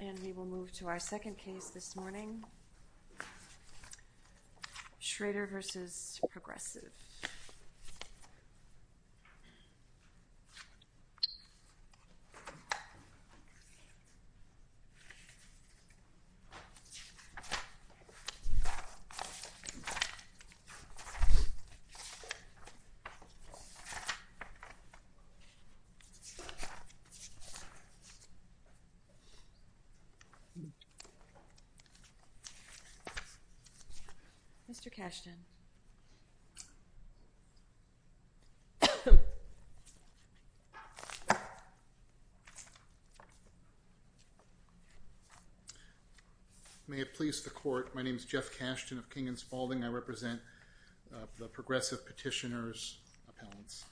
And we will move to our second case this morning, Schroeder v. Progressive. Mr. Kashtan. May it please the court, my name is Jeff Kashtan of King & Spaulding. I represent the Progressive Petitioners Appellants.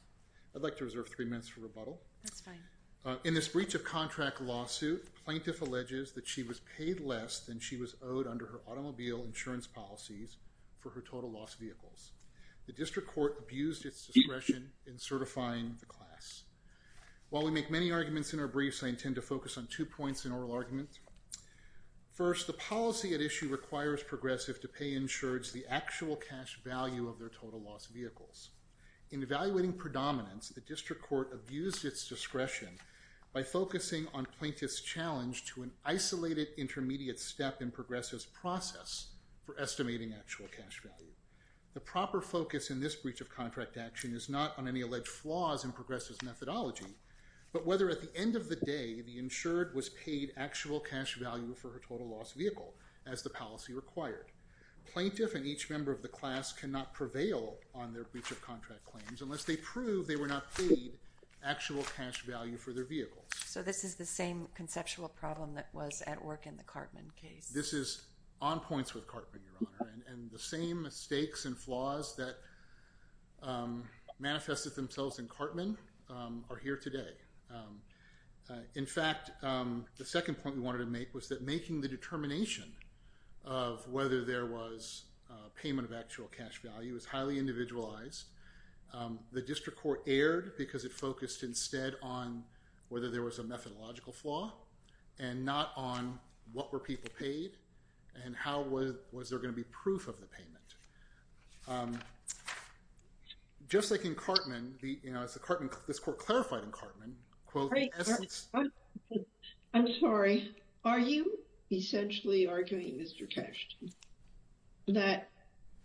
I'd like to reserve three minutes for rebuttal. That's fine. In this breach of contract lawsuit, plaintiff alleges that she was paid less than she was owed under her automobile insurance policies for her total loss vehicles. The district court abused its discretion in certifying the class. While we make many arguments in our briefs, I intend to focus on two points in oral arguments. First, the policy at issue requires Progressive to pay insureds the actual cash value of their total loss vehicles. In evaluating predominance, the district court abused its discretion by focusing on plaintiff's challenge to an isolated intermediate step in Progressive's process for estimating actual cash value. The proper focus in this breach of contract action is not on any alleged flaws in Progressive's methodology, but whether at the end of the day the insured was paid actual cash value for her total loss vehicle, as the policy required. Plaintiff and each member of the class cannot prevail on their breach of contract claims unless they prove they were not paid actual cash value for their vehicles. So this is the same conceptual problem that was at work in the Cartman case? This is on points with Cartman, Your Honor, and the same mistakes and flaws that manifested themselves in Cartman are here today. In fact, the second point we wanted to make was that making the determination of whether there was payment of actual cash value is highly individualized. The district court erred because it focused instead on whether there was a methodological flaw and not on what were people paid and how was there going to be proof of the payment. Just like in Cartman, as this court clarified in Cartman, I'm sorry, are you essentially arguing, Mr. Kashtan, that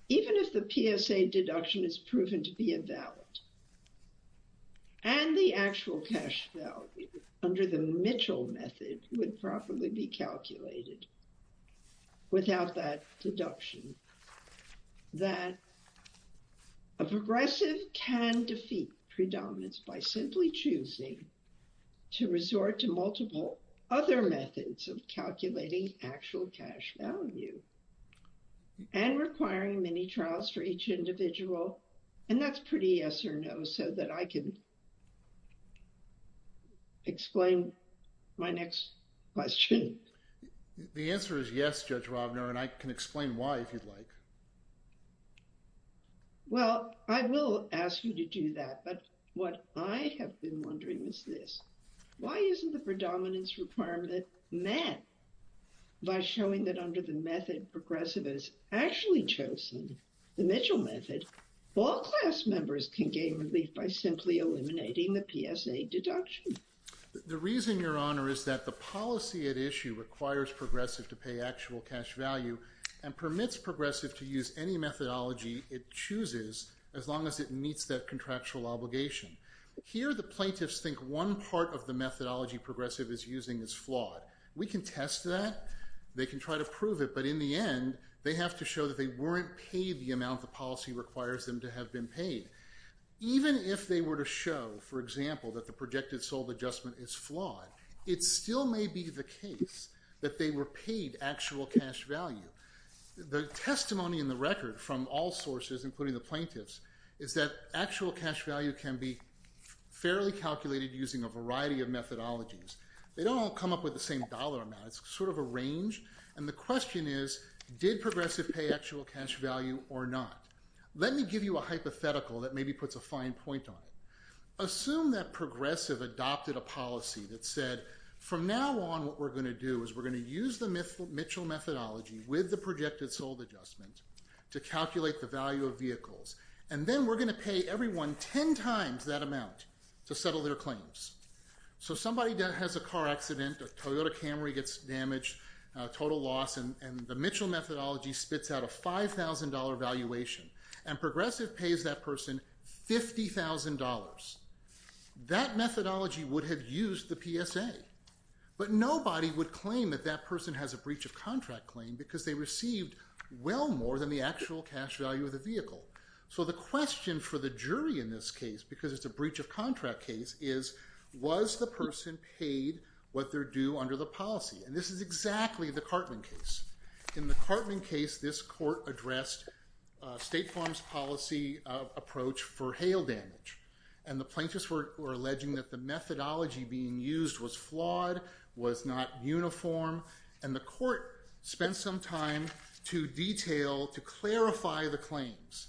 even if the PSA deduction is proven to be invalid, and the actual cash value under the Mitchell method would probably be calculated without that deduction, that a progressive can defeat predominance by simply choosing to resort to multiple other methods of calculating actual cash value and requiring many trials for each individual? And that's pretty yes or no, so that I can explain my next question. The answer is yes, Judge Robner, and I can explain why, if you'd like. Well, I will ask you to do that, but what I have been wondering is this. Why isn't the predominance requirement met by showing that under the method Progressive has actually chosen, the Mitchell method, all class members can gain relief by simply eliminating the PSA deduction? The reason, Your Honor, is that the policy at issue requires Progressive to pay actual cash value and permits Progressive to use any methodology it chooses as long as it meets that contractual obligation. Here, the plaintiffs think one part of the methodology Progressive is using is flawed. We can test that. They can try to prove it, but in the end, they have to show that they weren't paid the amount the policy requires them to have been paid. Even if they were to show, for example, that the projected sold adjustment is flawed, it still may be the case that they were paid actual cash value. The testimony in the record from all sources, including the plaintiffs, is that actual cash value can be fairly calculated using a variety of methodologies. They don't all come up with the same dollar amount. It's sort of a range, and the question is, did Progressive pay actual cash value or not? Let me give you a hypothetical that maybe puts a fine point on it. Assume that Progressive adopted a policy that said, from now on, what we're going to do is we're going to use the Mitchell methodology with the projected sold adjustment to calculate the value of vehicles, and then we're going to pay everyone ten times that amount to settle their claims. Somebody has a car accident, a Toyota Camry gets damaged, a total loss, and the Mitchell methodology spits out a $5,000 valuation, and Progressive pays that person $50,000. That methodology would have used the PSA, but nobody would claim that that person has a breach of contract claim because they received well more than the actual cash value of the vehicle. So the question for the jury in this case, because it's a breach of contract case, is, was the person paid what they're due under the policy? And this is exactly the Cartman case. In the Cartman case, this court addressed State Farm's policy approach for hail damage, and the plaintiffs were alleging that the methodology being used was flawed, was not uniform, and the court spent some time to detail, to clarify the claims.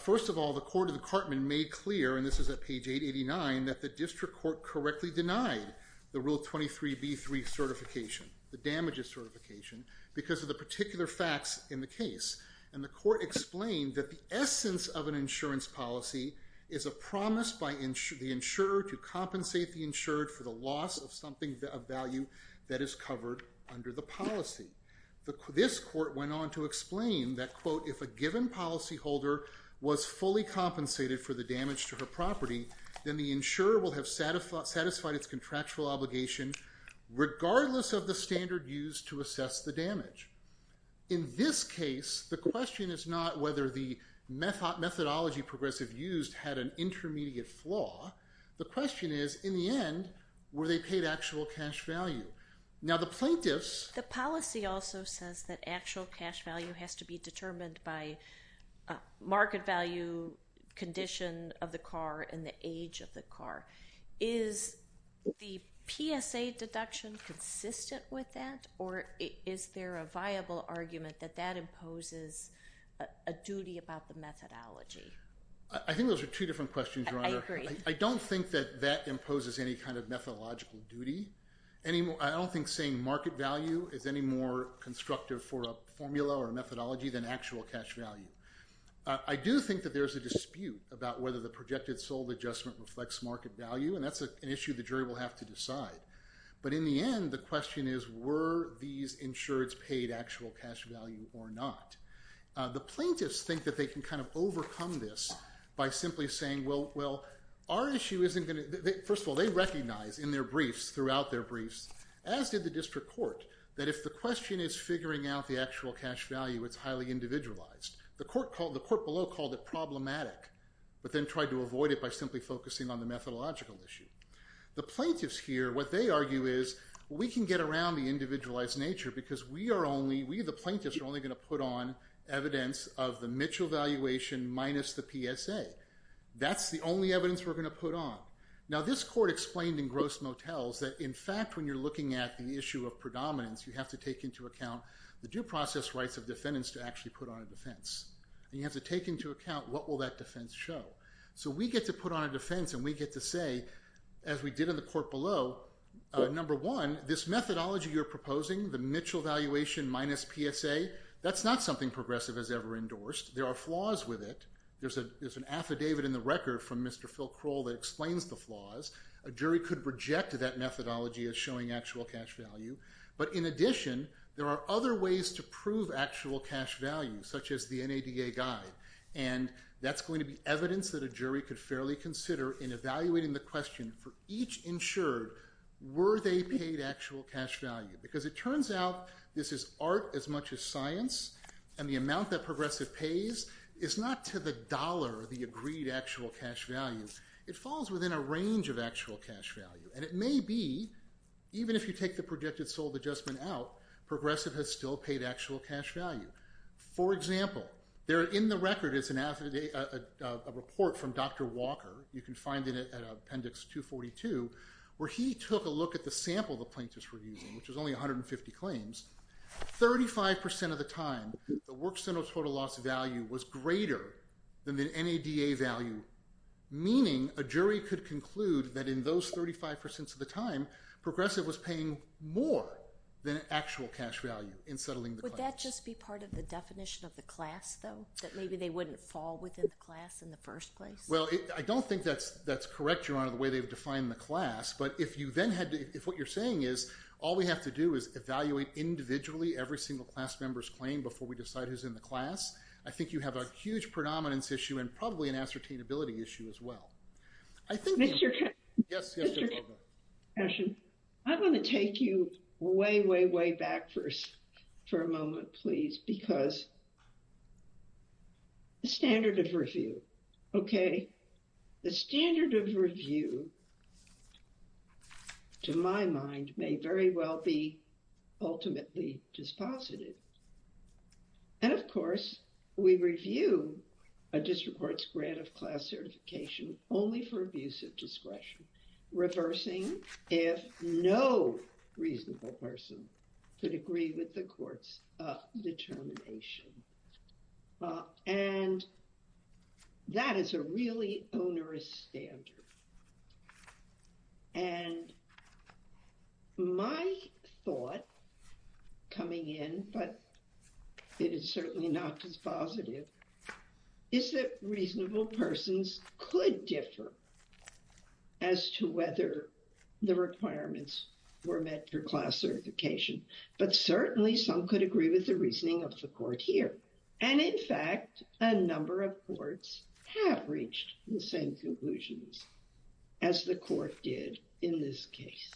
First of all, the court of the Cartman made clear, and this is at page 889, that the district court correctly denied the Rule 23b3 certification, the damages certification, because of the particular facts in the case, and the court explained that the essence of an insurance policy is a promise by the insurer to compensate the insured for the loss of something of value that is covered under the policy. This court went on to explain that, quote, if a given policyholder was fully compensated for the damage to her property, then the insurer will have satisfied its contractual obligation regardless of the standard used to assess the damage. In this case, the question is not whether the methodology Progressive used had an intermediate flaw. The question is, in the end, were they paid actual cash value? Now, the plaintiffs... The policy also says that actual cash value has to be determined by market value, condition of the car, and the age of the car. Is the PSA deduction consistent with that, or is there a viable argument that that imposes a duty about the methodology? I think those are two different questions, Your Honor. I agree. I don't think that that imposes any kind of methodological duty. I don't think saying market value is any more constructive for a formula or a methodology than actual cash value. I do think that there's a dispute about whether the projected sold adjustment reflects market value, and that's an issue the jury will have to decide. But in the end, the question is, were these insureds paid actual cash value or not? The plaintiffs think that they can kind of overcome this by simply saying, well, our issue isn't going to... First of all, they recognize in their briefs, throughout their briefs, as did the district court, that if the question is figuring out the actual cash value, it's highly individualized. The court below called it problematic, but then tried to avoid it by simply focusing on the methodological issue. The plaintiffs here, what they argue is, we can get around the individualized nature because we are only... We, the plaintiffs, are only going to put on evidence of the Mitchell valuation minus the PSA. That's the only evidence we're going to put on. Now, this court explained in gross motels that, in fact, when you're looking at the issue of predominance, you have to take into account the due process rights of defendants to actually put on a defense. And you have to take into account, what will that defense show? So we get to put on a defense and we get to say, as we did in the court below, number one, this methodology you're proposing, the Mitchell valuation minus PSA, that's not something Progressive has ever endorsed. There are flaws with it. There's an affidavit in the record from Mr. Phil Kroll that explains the flaws. A jury could reject that methodology as showing actual cash value. But in addition, there are other ways to prove actual cash value, such as the NADA guide. And that's going to be evidence that a jury could fairly consider in evaluating the question, for each insured, were they paid actual cash value? Because it turns out this is art as much as science. And the amount that Progressive pays is not to the dollar, the agreed actual cash value. It falls within a range of actual cash value. And it may be, even if you take the projected sold adjustment out, Progressive has still paid actual cash value. For example, there in the record is a report from Dr. Walker. You can find it at Appendix 242, where he took a look at the sample the plaintiffs were using, which was only 150 claims. Thirty-five percent of the time, the work center total loss value was greater than the NADA value, meaning a jury could conclude that in those 35 percent of the time, Progressive was paying more than actual cash value in settling the claim. Would that just be part of the definition of the class, though? That maybe they wouldn't fall within the class in the first place? Well, I don't think that's correct, Your Honor, the way they've defined the class. But if what you're saying is all we have to do is evaluate individually every single class member's claim before we decide who's in the class, I think you have a huge predominance issue and probably an ascertainability issue as well. Mr. Cashion, I'm going to take you way, way, way back first for a moment, please, because the standard of review, okay? The standard of review, to my mind, may very well be ultimately dispositive. And, of course, we review a district court's grant of class certification only for abuse of discretion, reversing if no reasonable person could agree with the court's determination. And that is a really onerous standard. And my thought coming in, but it is certainly not dispositive, is that reasonable persons could differ as to whether the requirements were met for class certification. But certainly some could agree with the reasoning of the court here. And, in fact, a number of courts have reached the same conclusions as the court did in this case.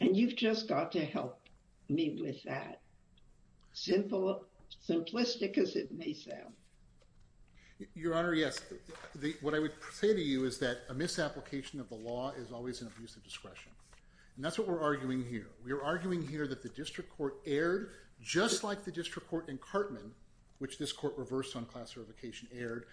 And you've just got to help me with that, simplistic as it may sound. Your Honor, yes. What I would say to you is that a misapplication of the law is always an abuse of discretion. And that's what we're arguing here. We're arguing here that the district court erred, just like the district court in Cartman, which this court reversed on class certification, erred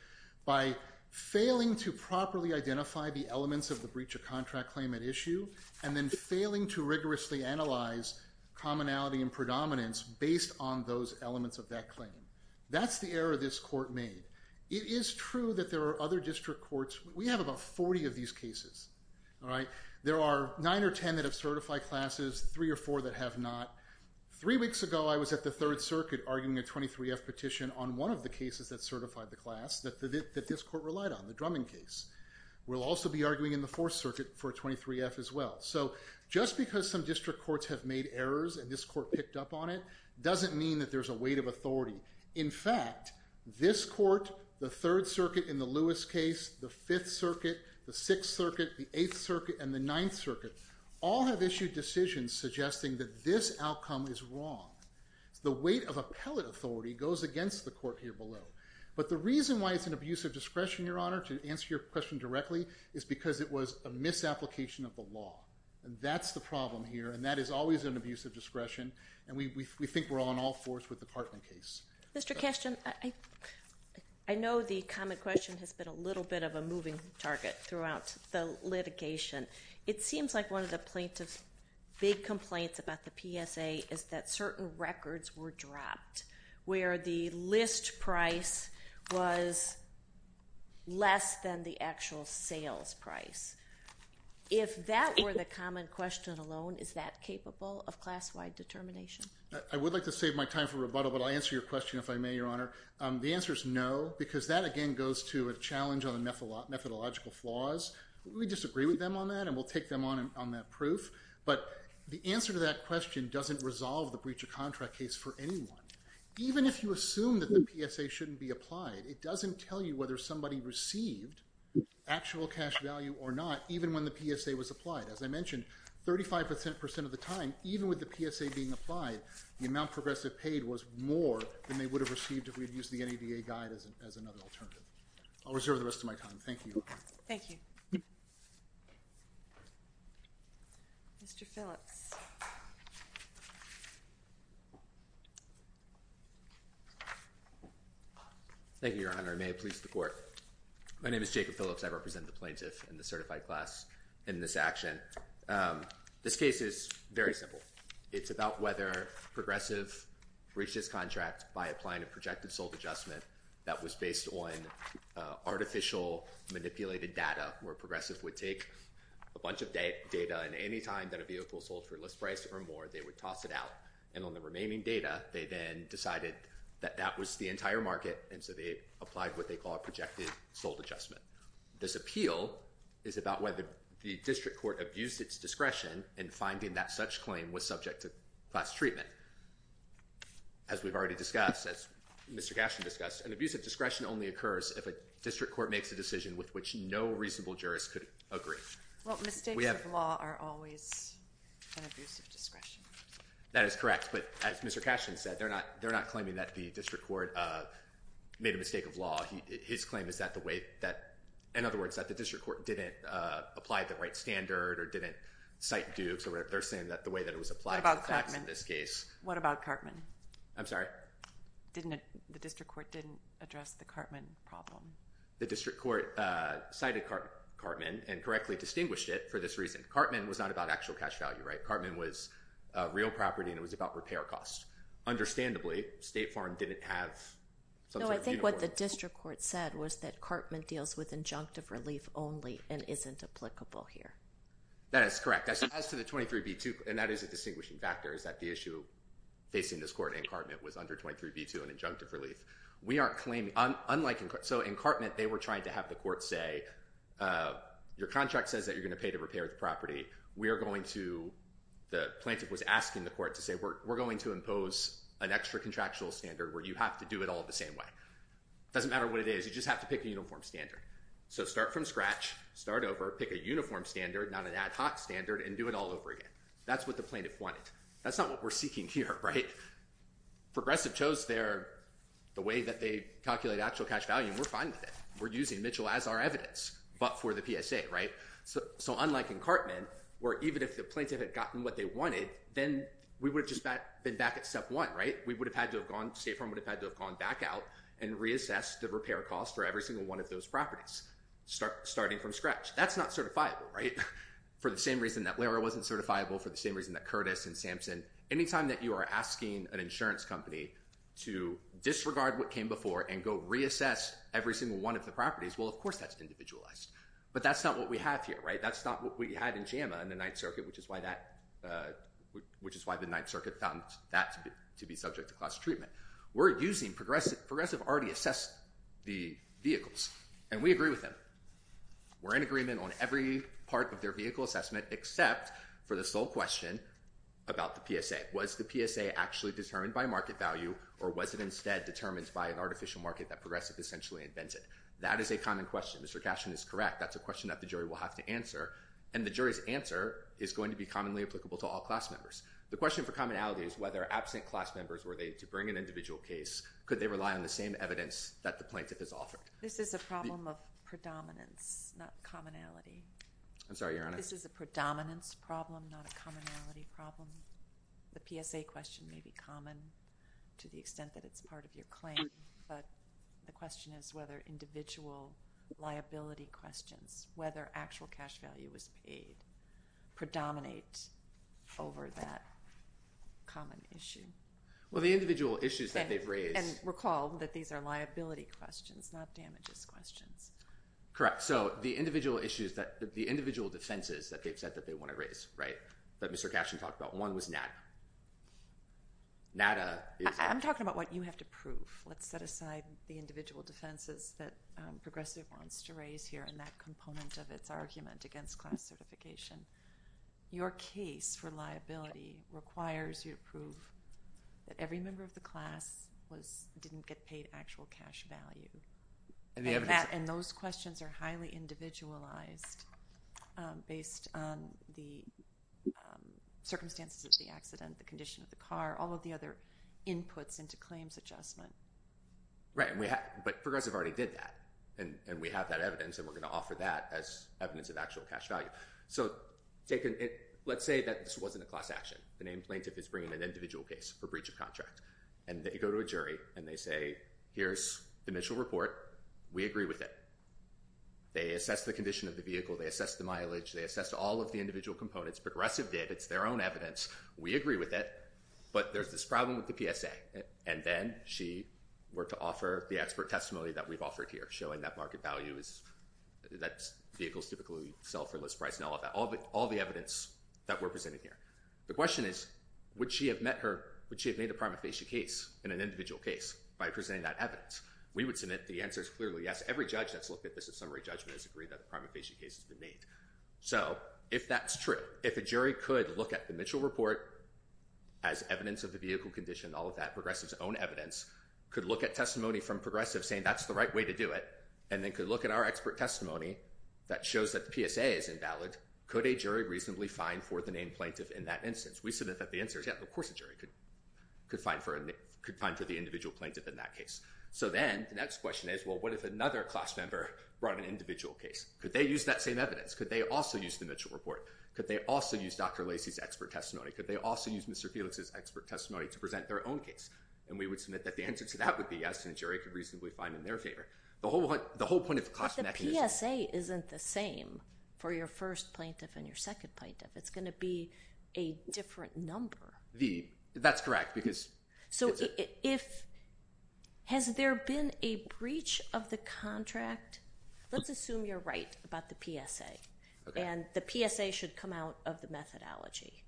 by failing to properly identify the elements of the breach of contract claim at issue and then failing to rigorously analyze commonality and predominance based on those elements of that claim. That's the error this court made. It is true that there are other district courts. We have about 40 of these cases, all right? There are nine or ten that have certified classes, three or four that have not. Three weeks ago I was at the Third Circuit arguing a 23-F petition on one of the cases that certified the class that this court relied on, the Drummond case. We'll also be arguing in the Fourth Circuit for a 23-F as well. So just because some district courts have made errors and this court picked up on it doesn't mean that there's a weight of authority. In fact, this court, the Third Circuit in the Lewis case, the Fifth Circuit, the Sixth Circuit, the Eighth Circuit, and the Ninth Circuit all have issued decisions suggesting that this outcome is wrong. The weight of appellate authority goes against the court here below. But the reason why it's an abuse of discretion, Your Honor, to answer your question directly, is because it was a misapplication of the law. That's the problem here, and that is always an abuse of discretion, and we think we're on all fours with the Cartman case. Mr. Kestin, I know the common question has been a little bit of a moving target throughout the litigation. It seems like one of the plaintiff's big complaints about the PSA is that certain records were dropped where the list price was less than the actual sales price. If that were the common question alone, is that capable of class-wide determination? I would like to save my time for rebuttal, but I'll answer your question if I may, Your Honor. The answer is no, because that, again, goes to a challenge on the methodological flaws. We disagree with them on that, and we'll take them on that proof. But the answer to that question doesn't resolve the breach of contract case for anyone. Even if you assume that the PSA shouldn't be applied, it doesn't tell you whether somebody received actual cash value or not even when the PSA was applied. As I mentioned, 35% of the time, even with the PSA being applied, the amount progressive paid was more than they would have received if we had used the NEDA guide as another alternative. I'll reserve the rest of my time. Thank you, Your Honor. Thank you. Mr. Phillips. Thank you, Your Honor, and may it please the Court. My name is Jacob Phillips. I represent the plaintiff and the certified class in this action. This case is very simple. It's about whether Progressive breached its contract by applying a projected sold adjustment that was based on artificial, manipulated data where Progressive would take a bunch of data, and any time that a vehicle sold for less price or more, they would toss it out, and on the remaining data, they then decided that that was the entire market, and so they applied what they call a projected sold adjustment. This appeal is about whether the district court abused its discretion in finding that such claim was subject to class treatment. As we've already discussed, as Mr. Cashman discussed, an abuse of discretion only occurs if a district court makes a decision with which no reasonable jurist could agree. Well, mistakes of law are always an abuse of discretion. That is correct, but as Mr. Cashman said, they're not claiming that the district court made a mistake of law. His claim is that the way that, in other words, that the district court didn't apply the right standard or didn't cite Dukes or whatever. They're saying that the way that it was applied to the facts in this case. What about Cartman? I'm sorry? The district court didn't address the Cartman problem. The district court cited Cartman and correctly distinguished it for this reason. Cartman was not about actual cash value, right? Cartman was real property, and it was about repair costs. Understandably, State Farm didn't have something of uniformity. No, I think what the district court said was that Cartman deals with injunctive relief only and isn't applicable here. That is correct. As to the 23b2, and that is a distinguishing factor, is that the issue facing this court in Cartman was under 23b2 and injunctive relief. We aren't claiming, unlike in Cartman, they were trying to have the court say, your contract says that you're going to pay to repair the property. We are going to, the plaintiff was asking the court to say, we're going to impose an extra contractual standard where you have to do it all the same way. It doesn't matter what it is. You just have to pick a uniform standard. So start from scratch, start over, pick a uniform standard, not an ad hoc standard, and do it all over again. That's what the plaintiff wanted. That's not what we're seeking here, right? Progressive chose the way that they calculate actual cash value, and we're fine with it. We're using Mitchell as our evidence, but for the PSA, right? So unlike in Cartman, where even if the plaintiff had gotten what they wanted, then we would have just been back at step one, right? State Farm would have had to have gone back out and reassessed the repair cost for every single one of those properties, starting from scratch. That's not certifiable, right? For the same reason that Lehrer wasn't certifiable, for the same reason that Curtis and Sampson, any time that you are asking an insurance company to disregard what came before and go reassess every single one of the properties, well, of course that's individualized. But that's not what we have here, right? That's not what we had in JAMA in the Ninth Circuit, which is why the Ninth Circuit found that to be subject to class treatment. We're using—Progressive already assessed the vehicles, and we agree with them. We're in agreement on every part of their vehicle assessment except for the sole question about the PSA. Was the PSA actually determined by market value, or was it instead determined by an artificial market that Progressive essentially invented? That is a common question. Mr. Cashman is correct. That's a question that the jury will have to answer, and the jury's answer is going to be commonly applicable to all class members. The question for commonality is whether absent class members, were they to bring an individual case, could they rely on the same evidence that the plaintiff has offered? This is a problem of predominance, not commonality. I'm sorry, Your Honor? This is a predominance problem, not a commonality problem. The PSA question may be common to the extent that it's part of your claim, but the question is whether individual liability questions, whether actual cash value was paid, predominate over that common issue. Well, the individual issues that they've raised— And recall that these are liability questions, not damages questions. Correct. So the individual issues that—the individual defenses that they've said that they want to raise, right, that Mr. Cashman talked about, one was NADA. NADA is— I'm talking about what you have to prove. Let's set aside the individual defenses that Progressive wants to raise here and that component of its argument against class certification. Your case for liability requires you to prove that every member of the class didn't get paid actual cash value. And those questions are highly individualized based on the circumstances of the accident, the condition of the car, all of the other inputs into claims adjustment. Right, but Progressive already did that, and we have that evidence, and we're going to offer that as evidence of actual cash value. So let's say that this wasn't a class action. The named plaintiff is bringing an individual case for breach of contract, and they go to a jury, and they say, Here's the initial report. We agree with it. They assess the condition of the vehicle. They assess the mileage. They assess all of the individual components. Progressive did. It's their own evidence. We agree with it, but there's this problem with the PSA. And then she were to offer the expert testimony that we've offered here, showing that market value is that vehicles typically sell for less price and all of that, all the evidence that we're presenting here. The question is, would she have made a prima facie case in an individual case by presenting that evidence? We would submit the answer is clearly yes. Every judge that's looked at this in summary judgment has agreed that the prima facie case has been made. So if that's true, if a jury could look at the initial report as evidence of the vehicle condition and all of that, Progressive's own evidence, could look at testimony from Progressive saying that's the right way to do it, and then could look at our expert testimony that shows that the PSA is invalid, could a jury reasonably fine for the named plaintiff in that instance? We submit that the answer is yes. Of course a jury could fine for the individual plaintiff in that case. So then the next question is, well, what if another class member brought an individual case? Could they use that same evidence? Could they also use the initial report? Could they also use Dr. Lacey's expert testimony? Could they also use Mr. Felix's expert testimony to present their own case? And we would submit that the answer to that would be yes, and a jury could reasonably fine in their favor. The whole point of the cost mechanism— But the PSA isn't the same for your first plaintiff and your second plaintiff. It's going to be a different number. That's correct, because— So has there been a breach of the contract? Let's assume you're right about the PSA, and the PSA should come out of the methodology.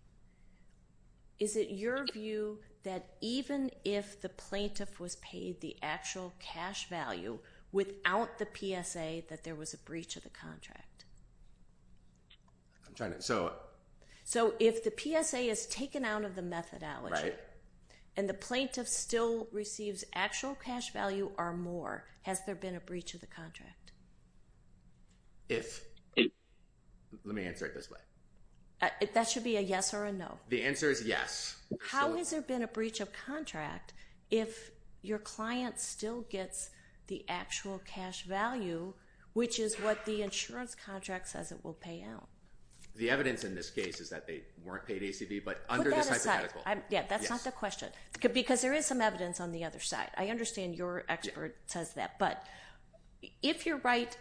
Is it your view that even if the plaintiff was paid the actual cash value without the PSA, that there was a breach of the contract? I'm trying to—so— So if the PSA is taken out of the methodology— And the plaintiff still receives actual cash value or more, has there been a breach of the contract? If. Let me answer it this way. That should be a yes or a no. The answer is yes. How has there been a breach of contract if your client still gets the actual cash value, which is what the insurance contract says it will pay out? The evidence in this case is that they weren't paid ACB, but under this hypothetical— Yeah, that's not the question. Because there is some evidence on the other side. I understand your expert says that. But if you're right,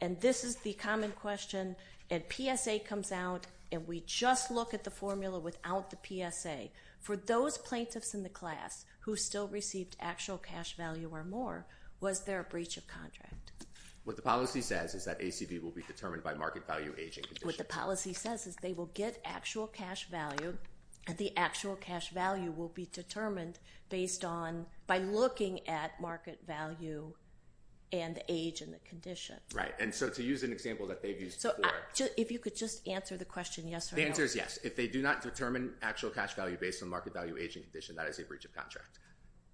and this is the common question, and PSA comes out, and we just look at the formula without the PSA, for those plaintiffs in the class who still received actual cash value or more, was there a breach of contract? What the policy says is that ACB will be determined by market value, age, and condition. What the policy says is they will get actual cash value, and the actual cash value will be determined based on— by looking at market value and age and the condition. Right. And so to use an example that they've used before— If you could just answer the question yes or no. The answer is yes. If they do not determine actual cash value based on market value, age, and condition, that is a breach of contract.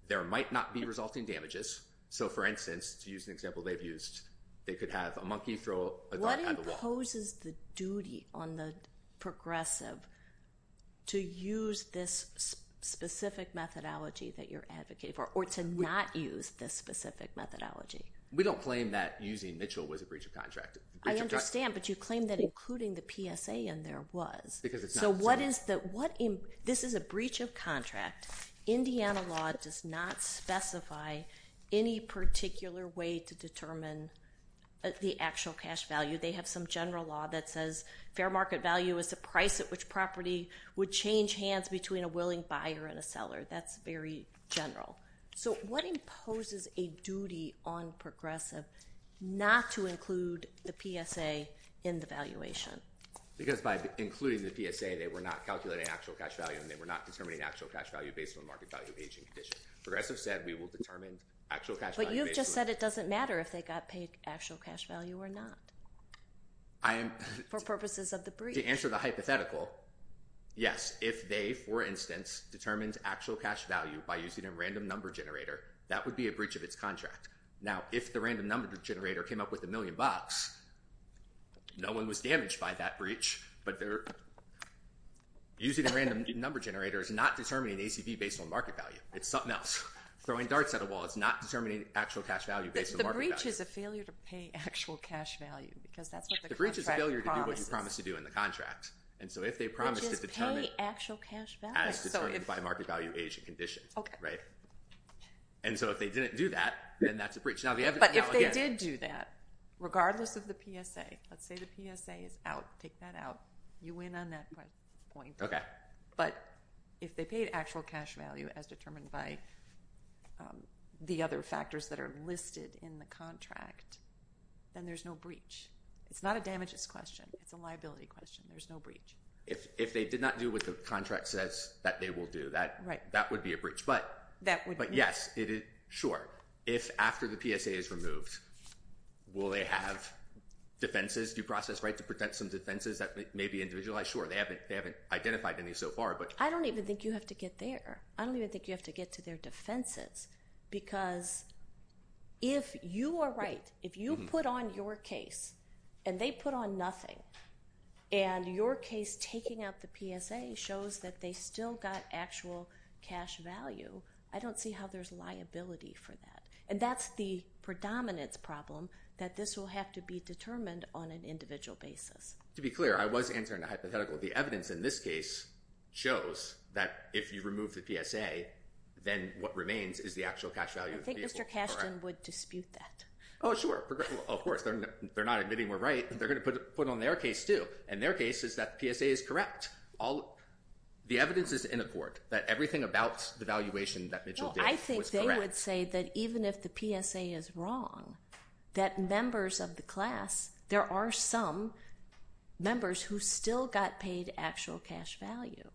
There might not be resulting damages. So, for instance, to use an example they've used, they could have a monkey throw a dart at the wall. Who imposes the duty on the progressive to use this specific methodology that you're advocating for or to not use this specific methodology? We don't claim that using Mitchell was a breach of contract. I understand, but you claim that including the PSA in there was. Because it's not. So what is the—this is a breach of contract. Indiana law does not specify any particular way to determine the actual cash value. They have some general law that says fair market value is the price at which property would change hands between a willing buyer and a seller. That's very general. So what imposes a duty on progressive not to include the PSA in the valuation? Because by including the PSA, they were not calculating actual cash value and they were not determining actual cash value based on market value, age, and condition. Progressive said we will determine actual cash value based on— For purposes of the breach. To answer the hypothetical, yes. If they, for instance, determined actual cash value by using a random number generator, that would be a breach of its contract. Now, if the random number generator came up with a million bucks, no one was damaged by that breach, but using a random number generator is not determining ACV based on market value. It's something else. Throwing darts at a wall is not determining actual cash value based on market value. The breach is a failure to pay actual cash value because that's what the contract promises. The breach is a failure to do what you promised to do in the contract. And so if they promised to determine— They just pay actual cash value. As determined by market value, age, and condition. Okay. Right? And so if they didn't do that, then that's a breach. But if they did do that, regardless of the PSA, let's say the PSA is out. Take that out. You win on that point. Okay. But if they paid actual cash value as determined by the other factors that are listed in the contract, then there's no breach. It's not a damages question. It's a liability question. There's no breach. If they did not do what the contract says that they will do, that would be a breach. But yes, sure. If after the PSA is removed, will they have defenses due process, right, to protect some defenses that may be individualized? Sure. They haven't identified any so far, but— I don't even think you have to get there. I don't even think you have to get to their defenses because if you are right, if you put on your case and they put on nothing, and your case taking out the PSA shows that they still got actual cash value, I don't see how there's liability for that. And that's the predominance problem, that this will have to be determined on an individual basis. To be clear, I was answering a hypothetical. The evidence in this case shows that if you remove the PSA, then what remains is the actual cash value. I think Mr. Cashton would dispute that. Oh, sure. Of course. They're not admitting we're right. They're going to put it on their case, too. And their case is that the PSA is correct. The evidence is in a court that everything about the valuation that Mitchell did was correct. No, I think they would say that even if the PSA is wrong, that members of the class, there are some members who still got paid actual cash value.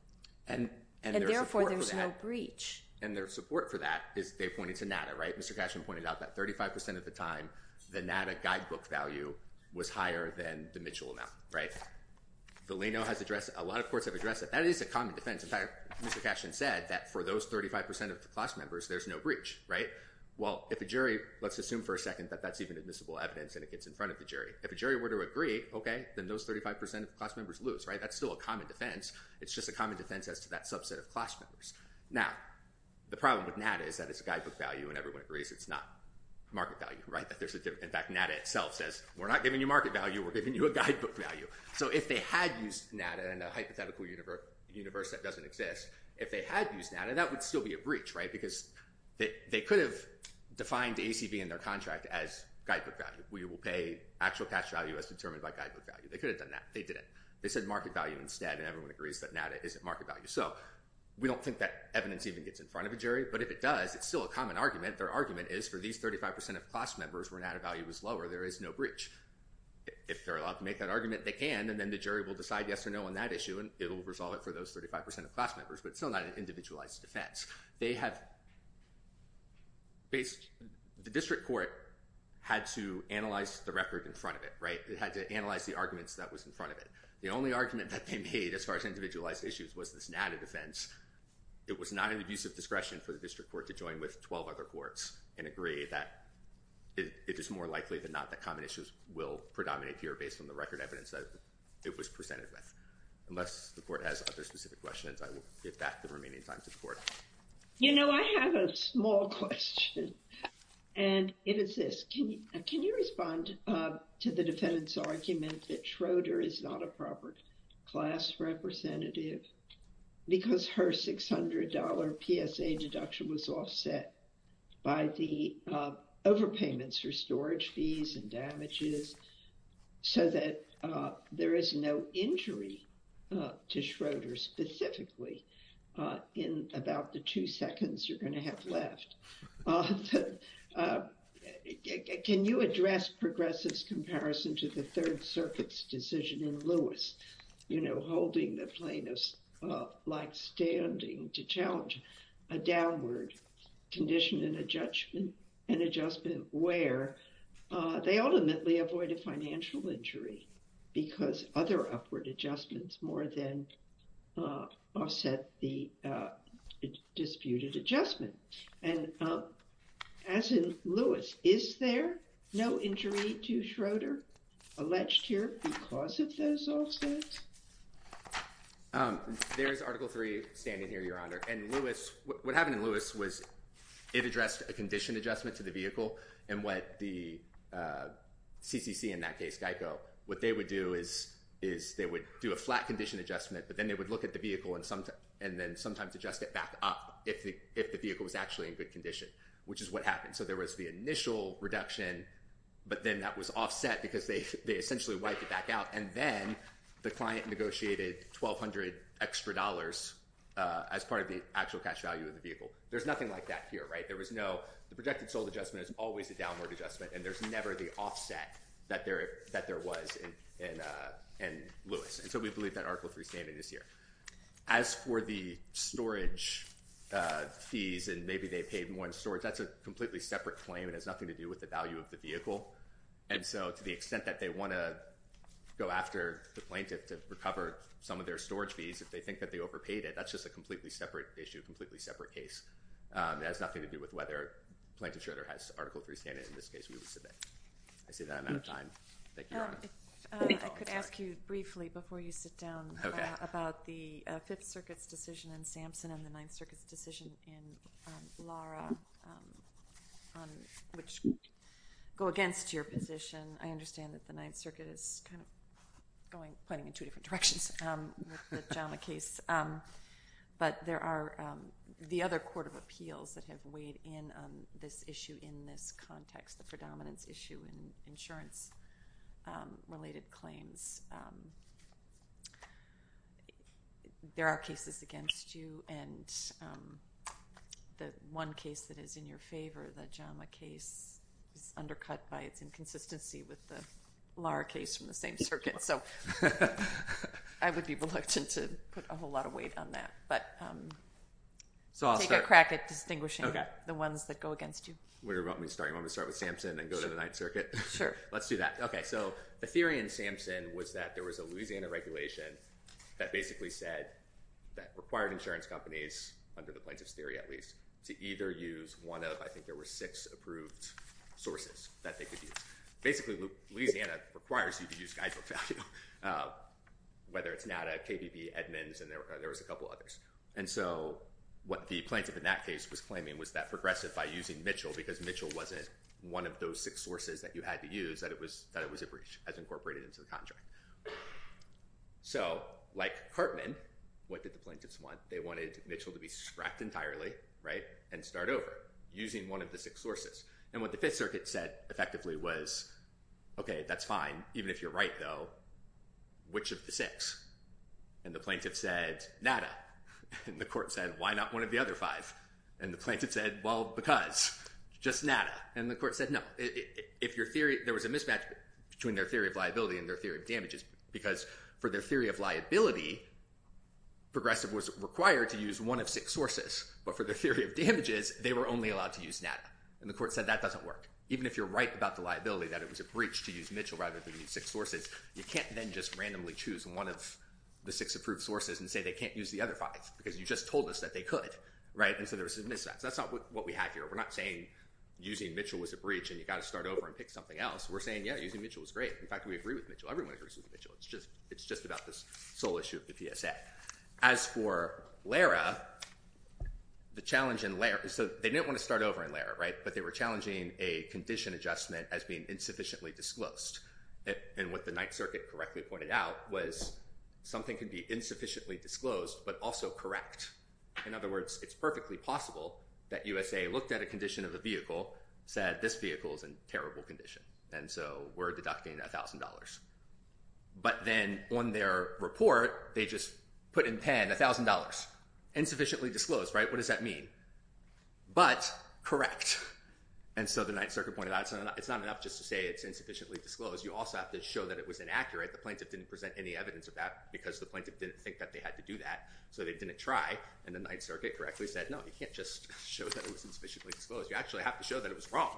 And therefore, there's no breach. And their support for that is they pointed to NADA, right? Mr. Cashton pointed out that 35% of the time, the NADA guidebook value was higher than the Mitchell amount, right? Delano has addressed it. A lot of courts have addressed it. That is a common defense. In fact, Mr. Cashton said that for those 35% of the class members, there's no breach, right? Well, if a jury, let's assume for a second that that's even admissible evidence and it gets in front of the jury. If a jury were to agree, okay, then those 35% of the class members lose, right? That's still a common defense. It's just a common defense as to that subset of class members. Now, the problem with NADA is that it's a guidebook value and everyone agrees it's not market value, right? In fact, NADA itself says we're not giving you market value. We're giving you a guidebook value. So if they had used NADA in a hypothetical universe that doesn't exist, if they had used NADA, that would still be a breach, right? Because they could have defined ACB in their contract as guidebook value. We will pay actual cash value as determined by guidebook value. They could have done that. They didn't. They said market value instead, and everyone agrees that NADA isn't market value. So we don't think that evidence even gets in front of a jury, but if it does, it's still a common argument. Their argument is for these 35% of class members where NADA value is lower, there is no breach. If they're allowed to make that argument, they can, and then the jury will decide yes or no on that issue, and it will resolve it for those 35% of class members, but it's still not an individualized defense. The district court had to analyze the record in front of it, right? It had to analyze the arguments that was in front of it. The only argument that they made as far as individualized issues was this NADA defense. It was not an abuse of discretion for the district court to join with 12 other courts and agree that it is more likely than not that common issues will predominate here based on the record evidence that it was presented with. Unless the court has other specific questions, I will give back the remaining time to the court. You know, I have a small question, and it is this. Can you respond to the defendant's argument that Schroeder is not a proper class representative because her $600 PSA deduction was offset by the overpayments for storage fees and damages so that there is no injury to Schroeder specifically in about the two seconds you're going to have left? Can you address progressives' comparison to the Third Circuit's decision in Lewis, you know, holding the plaintiffs like standing to challenge a downward condition and adjustment where they ultimately avoid a financial injury because other upward adjustments more than offset the disputed adjustment? And as in Lewis, is there no injury to Schroeder alleged here because of those offsets? There's Article 3 standing here, Your Honor. And Lewis, what happened in Lewis was it addressed a condition adjustment to the vehicle and what the CCC in that case, GEICO, what they would do is they would do a flat condition adjustment, but then they would look at the vehicle and then sometimes adjust it back up if the vehicle was actually in good condition, which is what happened. So there was the initial reduction, but then that was offset because they essentially wiped it back out, and then the client negotiated $1,200 extra as part of the actual cash value of the vehicle. There's nothing like that here, right? There was no—the projected sold adjustment is always a downward adjustment, and there's never the offset that there was in Lewis. And so we believe that Article 3 standing is here. As for the storage fees and maybe they paid more in storage, that's a completely separate claim. It has nothing to do with the value of the vehicle. And so to the extent that they want to go after the plaintiff to recover some of their storage fees, if they think that they overpaid it, that's just a completely separate issue, a completely separate case. It has nothing to do with whether Plaintiff Schroeder has Article 3 standing. In this case, we would submit. I see that I'm out of time. Thank you, Your Honor. I could ask you briefly before you sit down about the Fifth Circuit's decision in Sampson and the Ninth Circuit's decision in Lara, which go against your position. I understand that the Ninth Circuit is kind of pointing in two different directions with the JAMA case. But there are the other court of appeals that have weighed in on this issue in this context, the predominance issue in insurance-related claims. There are cases against you, and the one case that is in your favor, the JAMA case, is undercut by its inconsistency with the Lara case from the same circuit. I would be reluctant to put a whole lot of weight on that, but take a crack at distinguishing the ones that go against you. What do you want me to start? You want me to start with Sampson and go to the Ninth Circuit? Sure. Let's do that. Okay, so the theory in Sampson was that there was a Louisiana regulation that basically said that required insurance companies, under the plaintiff's theory at least, to either use one of, I think there were six approved sources that they could use. Basically, Louisiana requires you to use guidebook value, whether it's NADA, KBB, Edmunds, and there was a couple others. And so what the plaintiff in that case was claiming was that progressive by using Mitchell, because Mitchell wasn't one of those six sources that you had to use, that it was a breach as incorporated into the contract. So, like Hartman, what did the plaintiffs want? They wanted Mitchell to be scrapped entirely and start over using one of the six sources. And what the Fifth Circuit said effectively was, okay, that's fine. Even if you're right, though, which of the six? And the plaintiff said, NADA. And the court said, why not one of the other five? And the plaintiff said, well, because. Just NADA. And the court said, no. There was a mismatch between their theory of liability and their theory of damages, because for their theory of liability, progressive was required to use one of six sources. But for their theory of damages, they were only allowed to use NADA. And the court said, that doesn't work. Even if you're right about the liability, that it was a breach to use Mitchell rather than use six sources, you can't then just randomly choose one of the six approved sources and say they can't use the other five, because you just told us that they could. And so there was a mismatch. That's not what we have here. We're not saying using Mitchell was a breach and you've got to start over and pick something else. We're saying, yeah, using Mitchell was great. In fact, we agree with Mitchell. Everyone agrees with Mitchell. It's just about this sole issue of the PSA. As for LARA, the challenge in LARA, so they didn't want to start over in LARA, right? But they were challenging a condition adjustment as being insufficiently disclosed. And what the Ninth Circuit correctly pointed out was something could be insufficiently disclosed but also correct. In other words, it's perfectly possible that USA looked at a condition of the vehicle, said this vehicle is in terrible condition. And so we're deducting $1,000. But then on their report, they just put in pen $1,000, insufficiently disclosed, right? What does that mean? But correct. And so the Ninth Circuit pointed out it's not enough just to say it's insufficiently disclosed. You also have to show that it was inaccurate. The plaintiff didn't present any evidence of that because the plaintiff didn't think that they had to do that. So they didn't try. And the Ninth Circuit correctly said, no, you can't just show that it was insufficiently disclosed. You actually have to show that it was wrong.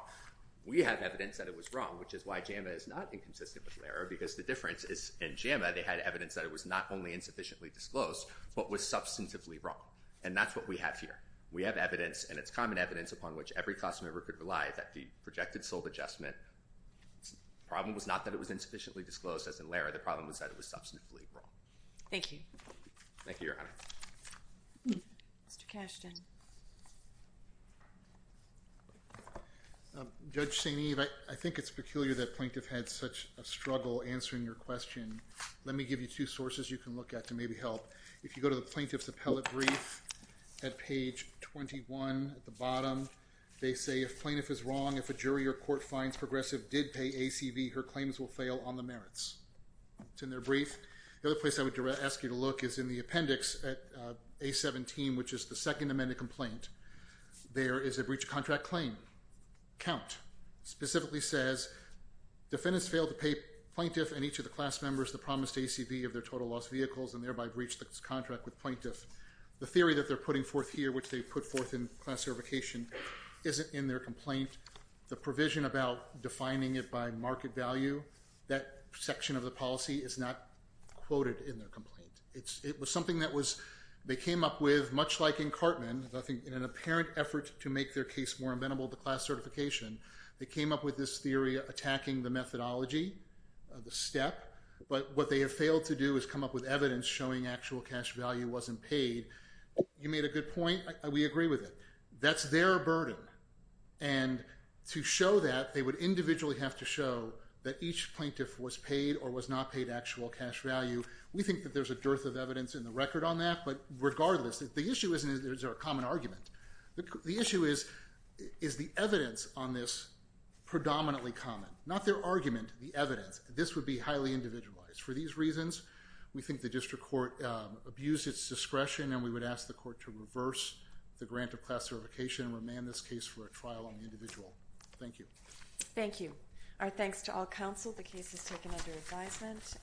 We have evidence that it was wrong, which is why JAMA is not inconsistent with LARA, because the difference is in JAMA, they had evidence that it was not only insufficiently disclosed but was substantively wrong. And that's what we have here. We have evidence, and it's common evidence, upon which every class member could rely that the projected sold adjustment, the problem was not that it was insufficiently disclosed as in LARA. The problem was that it was substantively wrong. Thank you. Thank you, Your Honor. Mr. Kashtan. Judge St. Eve, I think it's peculiar that plaintiff had such a struggle answering your question. Let me give you two sources you can look at to maybe help. If you go to the plaintiff's appellate brief at page 21 at the bottom, they say, if plaintiff is wrong, if a jury or court finds progressive did pay ACV, her claims will fail on the merits. It's in their brief. The other place I would ask you to look is in the appendix at A17, which is the second amended complaint. There is a breach of contract claim. Count specifically says defendants failed to pay plaintiff and each of the class members the promised ACV of their total loss vehicles and thereby breached the contract with plaintiff. The theory that they're putting forth here, which they put forth in class certification, isn't in their complaint. The provision about defining it by market value, that section of the policy is not quoted in their complaint. It was something that they came up with, much like in Cartman, I think in an apparent effort to make their case more amenable to class certification, they came up with this theory attacking the methodology, the step. But what they have failed to do is come up with evidence showing actual cash value wasn't paid. You made a good point. We agree with it. That's their burden. And to show that, they would individually have to show that each plaintiff was paid or was not paid actual cash value. We think that there's a dearth of evidence in the record on that. But regardless, the issue isn't is there a common argument. The issue is, is the evidence on this predominantly common? Not their argument, the evidence. This would be highly individualized. For these reasons, we think the district court abused its discretion and we would ask the court to reverse the grant of class certification and remand this case for a trial on the individual. Thank you. Thank you. Our thanks to all counsel. The case is taken under advisement.